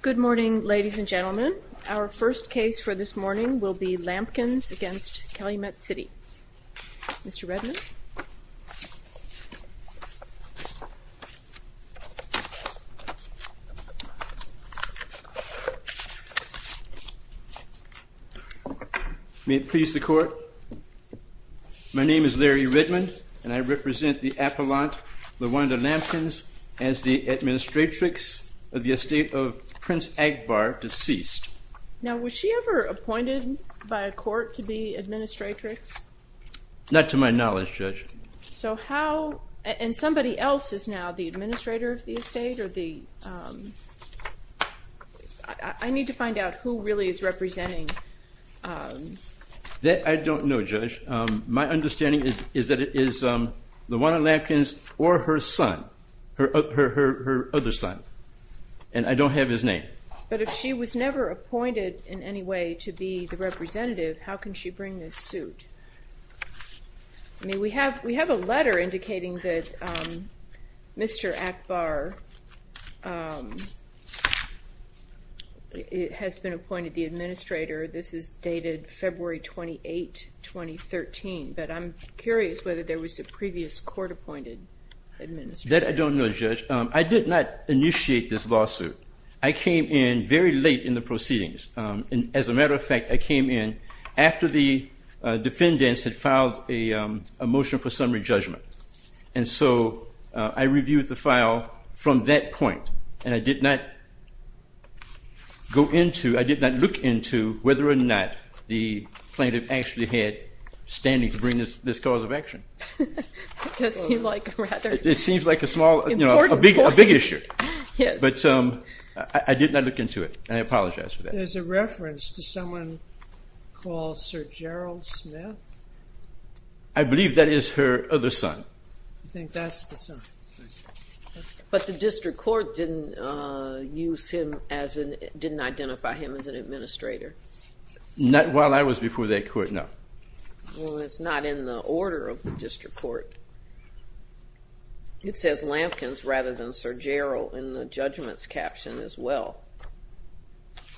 Good morning, ladies and gentlemen. Our first case for this morning will be Lampkins v. Calumet City. Mr. Redmond. May it please the court, my name is Larry Redmond and I represent the appellant, LaJuanda Lampkins, as the administratrix of the estate of Prince Akbar, deceased. Now was she ever appointed by a court to be administratrix? Not to my knowledge, Judge. So how, and somebody else is now the administrator of the estate or the, I need to find out who really is representing. That I don't know, Judge. My understanding is that it is LaJuanda Lampkins or her son, her other son. And I don't have his name. But if she was never appointed in any way to be the representative, how can she bring this suit? I mean, we have a letter indicating that Mr. Akbar has been appointed the administrator. This is dated February 28, 2013. But I'm curious whether there was a previous court appointed administrator. That I don't know, Judge. I did not initiate this lawsuit. I came in very late in the proceedings. As a matter of fact, I came in after the defendants had filed a motion for summary judgment. And so I reviewed the file from that point. And I did not go into, I did not look into whether or not the plaintiff actually had standing to bring this cause of action. It seems like a rather important point. It seems like a small, you know, a big issue. Yes. But I did not look into it. And I apologize for that. There's a reference to someone called Sir Gerald Smith. I believe that is her other son. I think that's the son. But the district court didn't use him as an, didn't identify him as an administrator. Not while I was before that court, no. Well, it's not in the order of the district court. It says Lampkins rather than Sir Gerald in the judgments caption as well.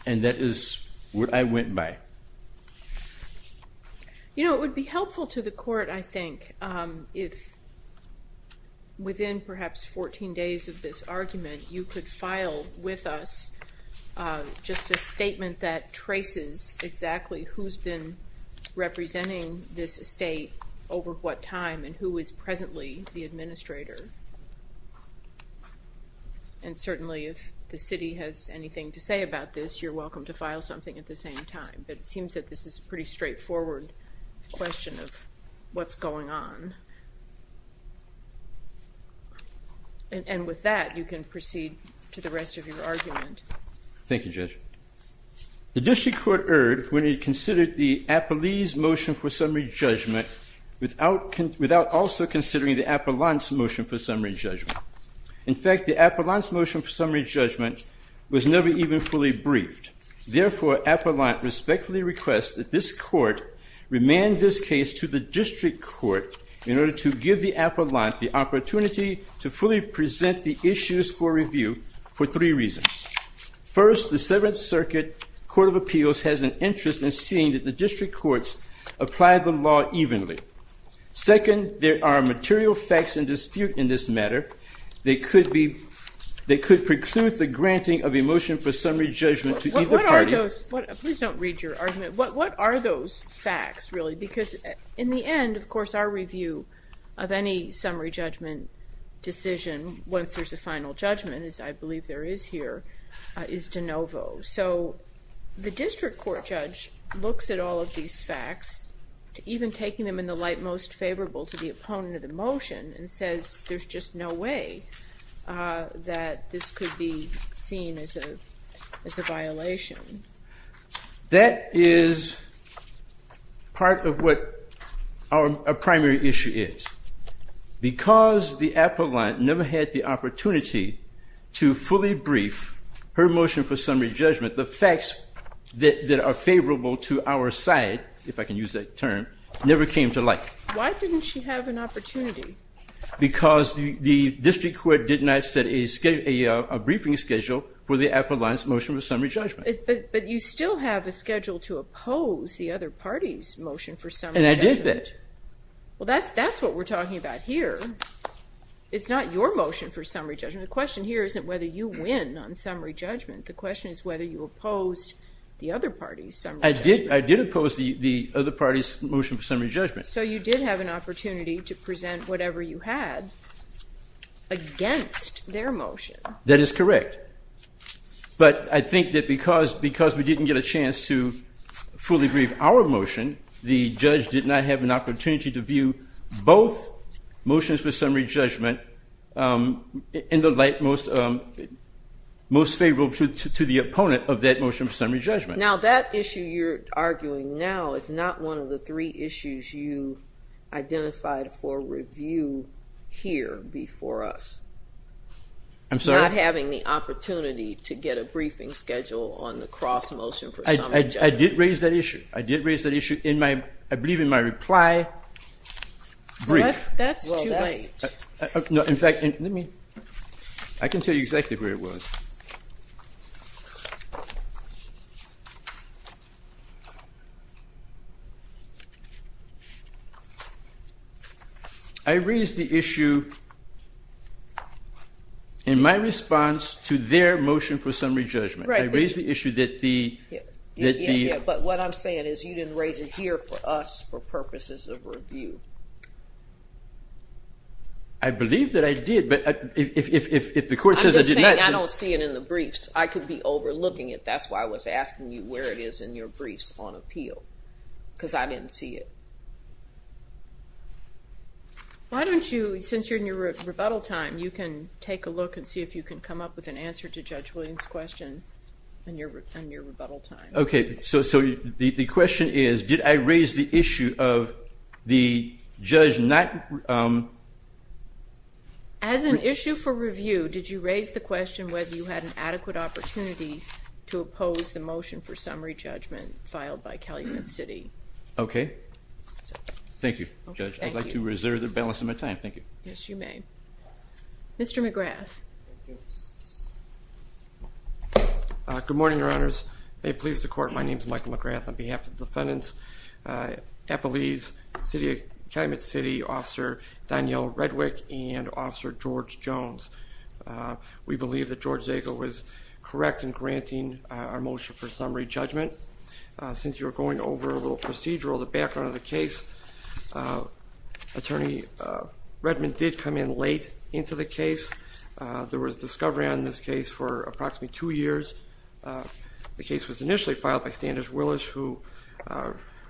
And that is what I went by. You know, it would be helpful to the court, I think, if within perhaps 14 days of this argument, you could file with us just a statement that traces exactly who's been representing this estate over what time and who is presently the administrator. And certainly, if the city has anything to say about this, you're welcome to file something at the same time. But it seems that this is a pretty straightforward question of what's going on. And with that, you can proceed to the rest of your argument. Thank you, Judge. The district court erred when it considered the Apollon's motion for summary judgment without without also considering the Apollon's motion for summary judgment. In fact, the Apollon's motion for summary judgment was never even fully briefed. And therefore, Apollon respectfully requests that this court remand this case to the district court in order to give the Apollon the opportunity to fully present the issues for review for three reasons. First, the Seventh Circuit Court of Appeals has an interest in seeing that the district courts apply the law evenly. Second, there are material facts in dispute in this matter. They could preclude the granting of a motion for summary judgment to either party. Please don't read your argument. What are those facts, really? Because in the end, of course, our review of any summary judgment decision, once there's a final judgment, as I believe there is here, is de novo. So the district court judge looks at all of these facts, even taking them in the light most favorable to the opponent of the motion, and says there's just no way that this could be seen as a violation. That is part of what our primary issue is. Because the Apollon never had the opportunity to fully brief her motion for summary judgment, the facts that are favorable to our side, if I can use that term, never came to light. Why didn't she have an opportunity? Because the district court did not set a briefing schedule for the Apollon's motion for summary judgment. But you still have a schedule to oppose the other party's motion for summary judgment. And I did that. Well, that's what we're talking about here. It's not your motion for summary judgment. The question here isn't whether you win on summary judgment. The question is whether you opposed the other party's summary judgment. I did oppose the other party's motion for summary judgment. So you did have an opportunity to present whatever you had against their motion. That is correct. But I think that because we didn't get a chance to fully brief our motion, the judge did not have an opportunity to view both motions for summary judgment in the light most favorable to the opponent of that motion for summary judgment. Now, that issue you're arguing now is not one of the three issues you identified for review here before us. I'm sorry? You're not having the opportunity to get a briefing schedule on the cross motion for summary judgment. I did raise that issue. I did raise that issue. I believe in my reply brief. That's too late. In fact, let me. I can tell you exactly where it was. Okay. I raised the issue. In my response to their motion for summary judgment, I raised the issue that the. But what I'm saying is you didn't raise it here for us for purposes of review. I believe that I did, but if the court says I did not. I'm just saying I don't see it in the briefs. I could be overlooking it. That's why I was asking you where it is in your briefs on appeal, because I didn't see it. Why don't you, since you're in your rebuttal time, you can take a look and see if you can come up with an answer to Judge Williams' question in your rebuttal time. Okay. So the question is, did I raise the issue of the judge not. As an issue for review, did you raise the question whether you had an adequate opportunity to oppose the motion for summary judgment filed by Calumet City? Okay. Thank you, Judge. I'd like to reserve the balance of my time. Thank you. Yes, you may. Mr. McGrath. Good morning, Your Honors. May it please the Court, my name is Michael McGrath. On behalf of the defendants, Appalese City, Calumet City, Officer Danielle Redwick and Officer George Jones. We believe that George Zago was correct in granting our motion for summary judgment. Since you were going over a little procedural, the background of the case, Attorney Redmond did come in late into the case. There was discovery on this case for approximately two years. The case was initially filed by Standish Willis, who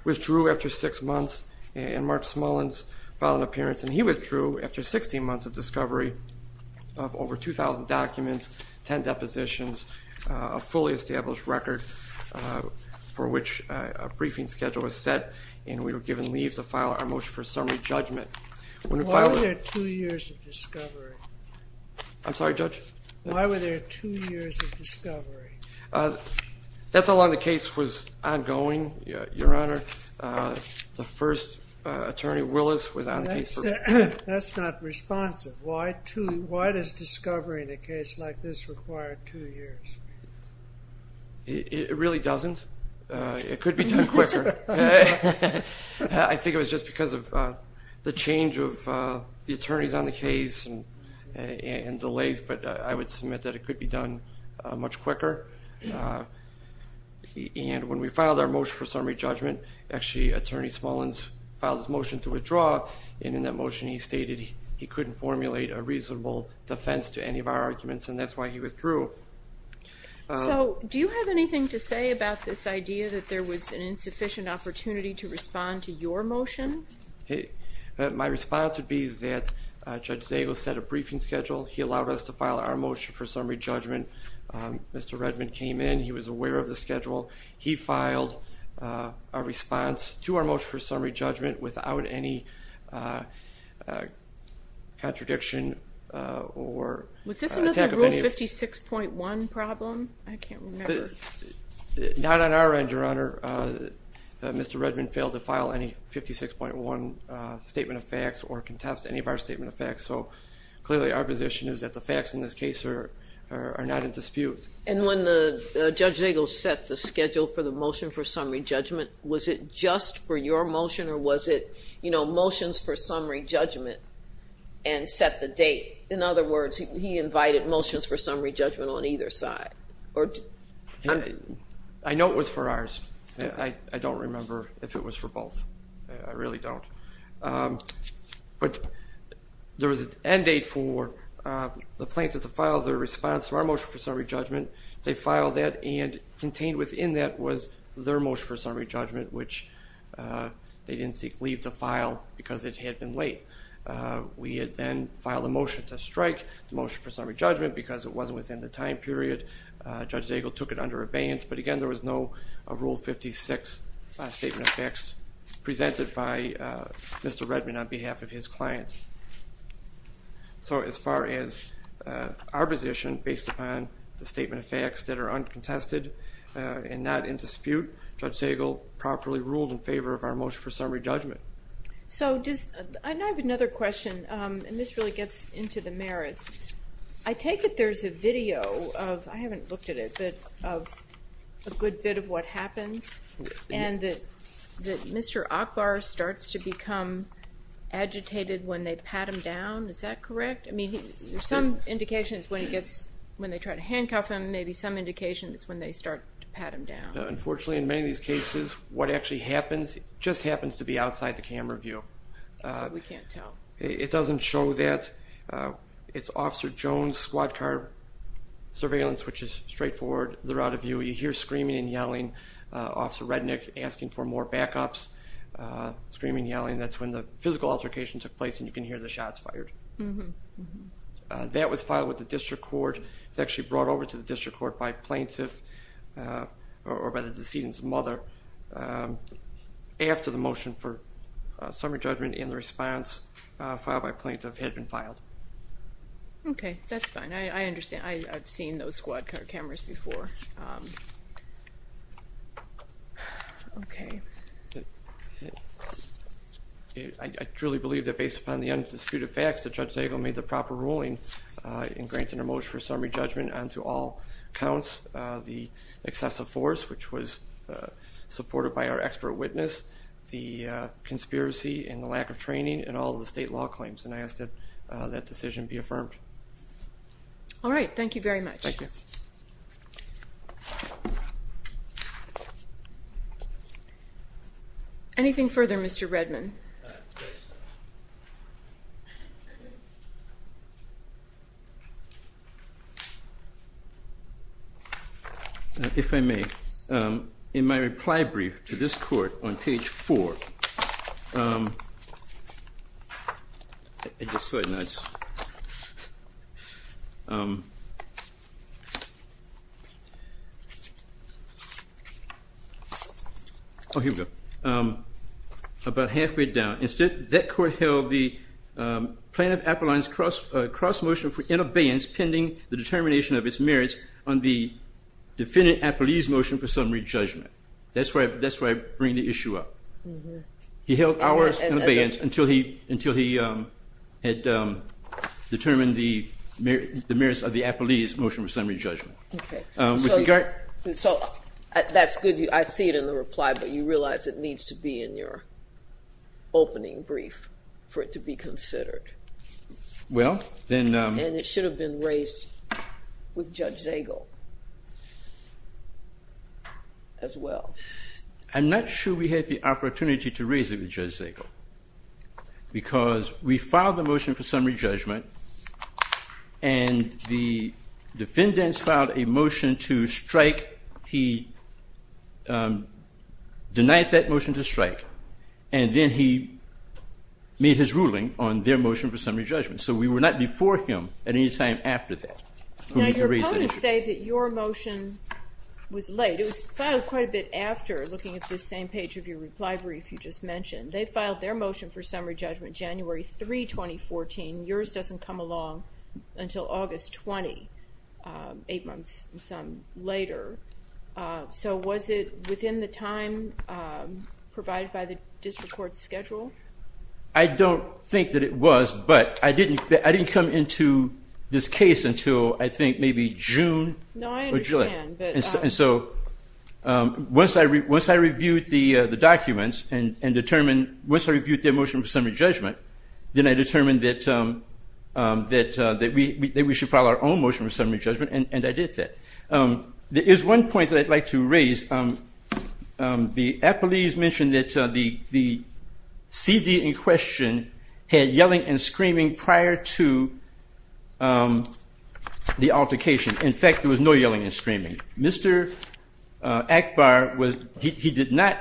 withdrew after six months. And Mark Smullins filed an appearance, and he withdrew after 16 months of discovery of over 2,000 documents, 10 depositions, a fully established record for which a briefing schedule was set. And we were given leave to file our motion for summary judgment. Why were there two years of discovery? I'm sorry, Judge? Why were there two years of discovery? That's how long the case was ongoing, Your Honor. The first attorney, Willis, was on the case for... That's not responsive. Why does discovery in a case like this require two years? It really doesn't. It could be done quicker. I think it was just because of the change of the attorneys on the case and delays, but I would submit that it could be done much quicker. And when we filed our motion for summary judgment, actually, Attorney Smullins filed his motion to withdraw. And in that motion, he stated he couldn't formulate a reasonable defense to any of our arguments, and that's why he withdrew. So, do you have anything to say about this idea that there was an insufficient opportunity to respond to your motion? My response would be that Judge Zagos set a briefing schedule. He allowed us to file our motion for summary judgment. Mr. Redman came in. He was aware of the schedule. He filed a response to our motion for summary judgment without any contradiction or... Was this another Rule 56.1 problem? I can't remember. Not on our end, Your Honor. Mr. Redman failed to file any 56.1 statement of facts or contest any of our statement of facts. So, clearly, our position is that the facts in this case are not in dispute. And when Judge Zagos set the schedule for the motion for summary judgment, was it just for your motion or was it motions for summary judgment and set the date? In other words, he invited motions for summary judgment on either side. I know it was for ours. I don't remember if it was for both. I really don't. But there was an end date for the plaintiff to file their response to our motion for summary judgment. They filed that, and contained within that was their motion for summary judgment, which they didn't leave to file because it had been late. We had then filed a motion to strike the motion for summary judgment because it wasn't within the time period. Judge Zagos took it under abeyance. But, again, there was no Rule 56 statement of facts presented by Mr. Redman on behalf of his client. So as far as our position, based upon the statement of facts that are uncontested and not in dispute, Judge Zagos properly ruled in favor of our motion for summary judgment. So I have another question, and this really gets into the merits. I take it there's a video of, I haven't looked at it, but of a good bit of what happens, and that Mr. Ackbar starts to become agitated when they pat him down. Is that correct? I mean, there's some indication it's when they try to handcuff him. Maybe some indication it's when they start to pat him down. Unfortunately, in many of these cases, what actually happens just happens to be outside the camera view. So we can't tell. It doesn't show that. It's Officer Jones' squad car surveillance, which is straightforward. They're out of view. You hear screaming and yelling, Officer Rednick asking for more backups, screaming, yelling. That's when the physical altercation took place, and you can hear the shots fired. That was filed with the district court. It was actually brought over to the district court by plaintiff or by the decedent's mother after the motion for summary judgment and the response filed by plaintiff had been filed. Okay. That's fine. I understand. I've seen those squad car cameras before. Okay. I truly believe that based upon the undisputed facts that Judge Dagle made the proper ruling in granting a motion for summary judgment onto all counts, the excessive force, which was supported by our expert witness, the conspiracy and the lack of training, and all of the state law claims, and I ask that that decision be affirmed. All right. Thank you very much. Thank you. Thank you. Anything further, Mr. Redman? If I may, in my reply brief to this court on page four, I just saw it in the notes. Oh, here we go. About halfway down. Instead, that court held the plaintiff-appellant's cross motion for in abeyance pending the determination of its merits on the defendant-appellee's motion for summary judgment. That's where I bring the issue up. He held ours in abeyance until he had determined the merits of the appellee's motion for summary judgment. Okay. So that's good. I see it in the reply, but you realize it needs to be in your opening brief for it to be considered. And it should have been raised with Judge Zagel as well. I'm not sure we had the opportunity to raise it with Judge Zagel because we filed the motion for summary judgment, and the defendants filed a motion to strike. He denied that motion to strike, and then he made his ruling on their motion for summary judgment. So we were not before him at any time after that. Now, your opponents say that your motion was late. It was filed quite a bit after looking at this same page of your reply brief you just mentioned. They filed their motion for summary judgment January 3, 2014. Yours doesn't come along until August 20, eight months and some later. So was it within the time provided by the district court's schedule? I don't think that it was, but I didn't come into this case until I think maybe June or July. No, I understand. And so once I reviewed the documents and once I reviewed their motion for summary judgment, then I determined that we should file our own motion for summary judgment, and I did that. There is one point that I'd like to raise. The appellees mentioned that the C.D. in question had yelling and screaming prior to the altercation. In fact, there was no yelling and screaming. Mr. Akbar, he did not,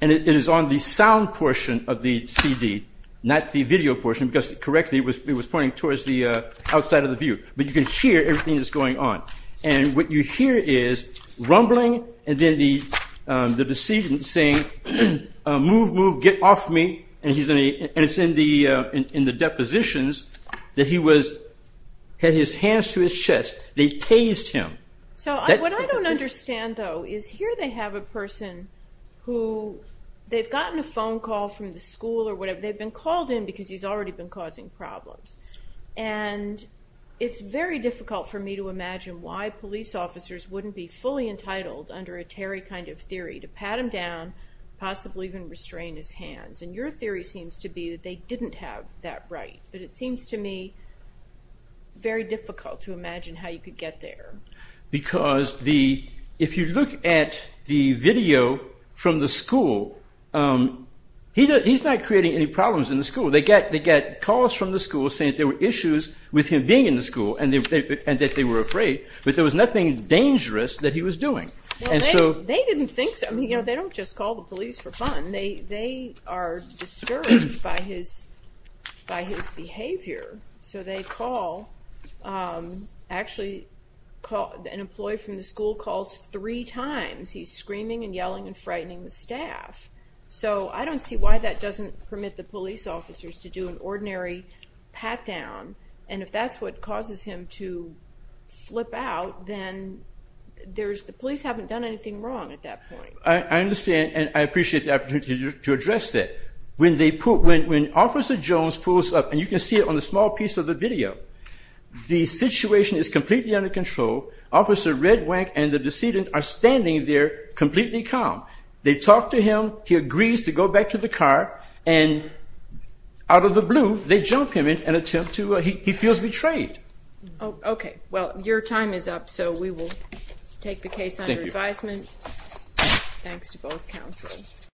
and it is on the sound portion of the C.D., not the video portion, because, correctly, it was pointing towards the outside of the view. But you can hear everything that's going on. And what you hear is rumbling and then the decedent saying, move, move, get off me. And it's in the depositions that he had his hands to his chest. They tased him. So what I don't understand, though, is here they have a person who they've gotten a phone call from the school or whatever, they've been called in because he's already been causing problems. And it's very difficult for me to imagine why police officers wouldn't be fully entitled, under a Terry kind of theory, to pat him down, possibly even restrain his hands. And your theory seems to be that they didn't have that right. But it seems to me very difficult to imagine how you could get there. Because if you look at the video from the school, he's not creating any problems in the school. They get calls from the school saying there were issues with him being in the school and that they were afraid, but there was nothing dangerous that he was doing. They didn't think so. They don't just call the police for fun. They are discouraged by his behavior. So they call. Actually, an employee from the school calls three times. He's screaming and yelling and frightening the staff. So I don't see why that doesn't permit the police officers to do an ordinary pat-down. And if that's what causes him to flip out, then the police haven't done anything wrong at that point. I understand and I appreciate the opportunity to address that. When Officer Jones pulls up, and you can see it on the small piece of the video, the situation is completely under control. Officer Red Wank and the decedent are standing there completely calm. They talk to him. He agrees to go back to the car. And out of the blue, they jump him and attempt to – he feels betrayed. Okay. Well, your time is up, so we will take the case under advisement. Thanks to both counsels.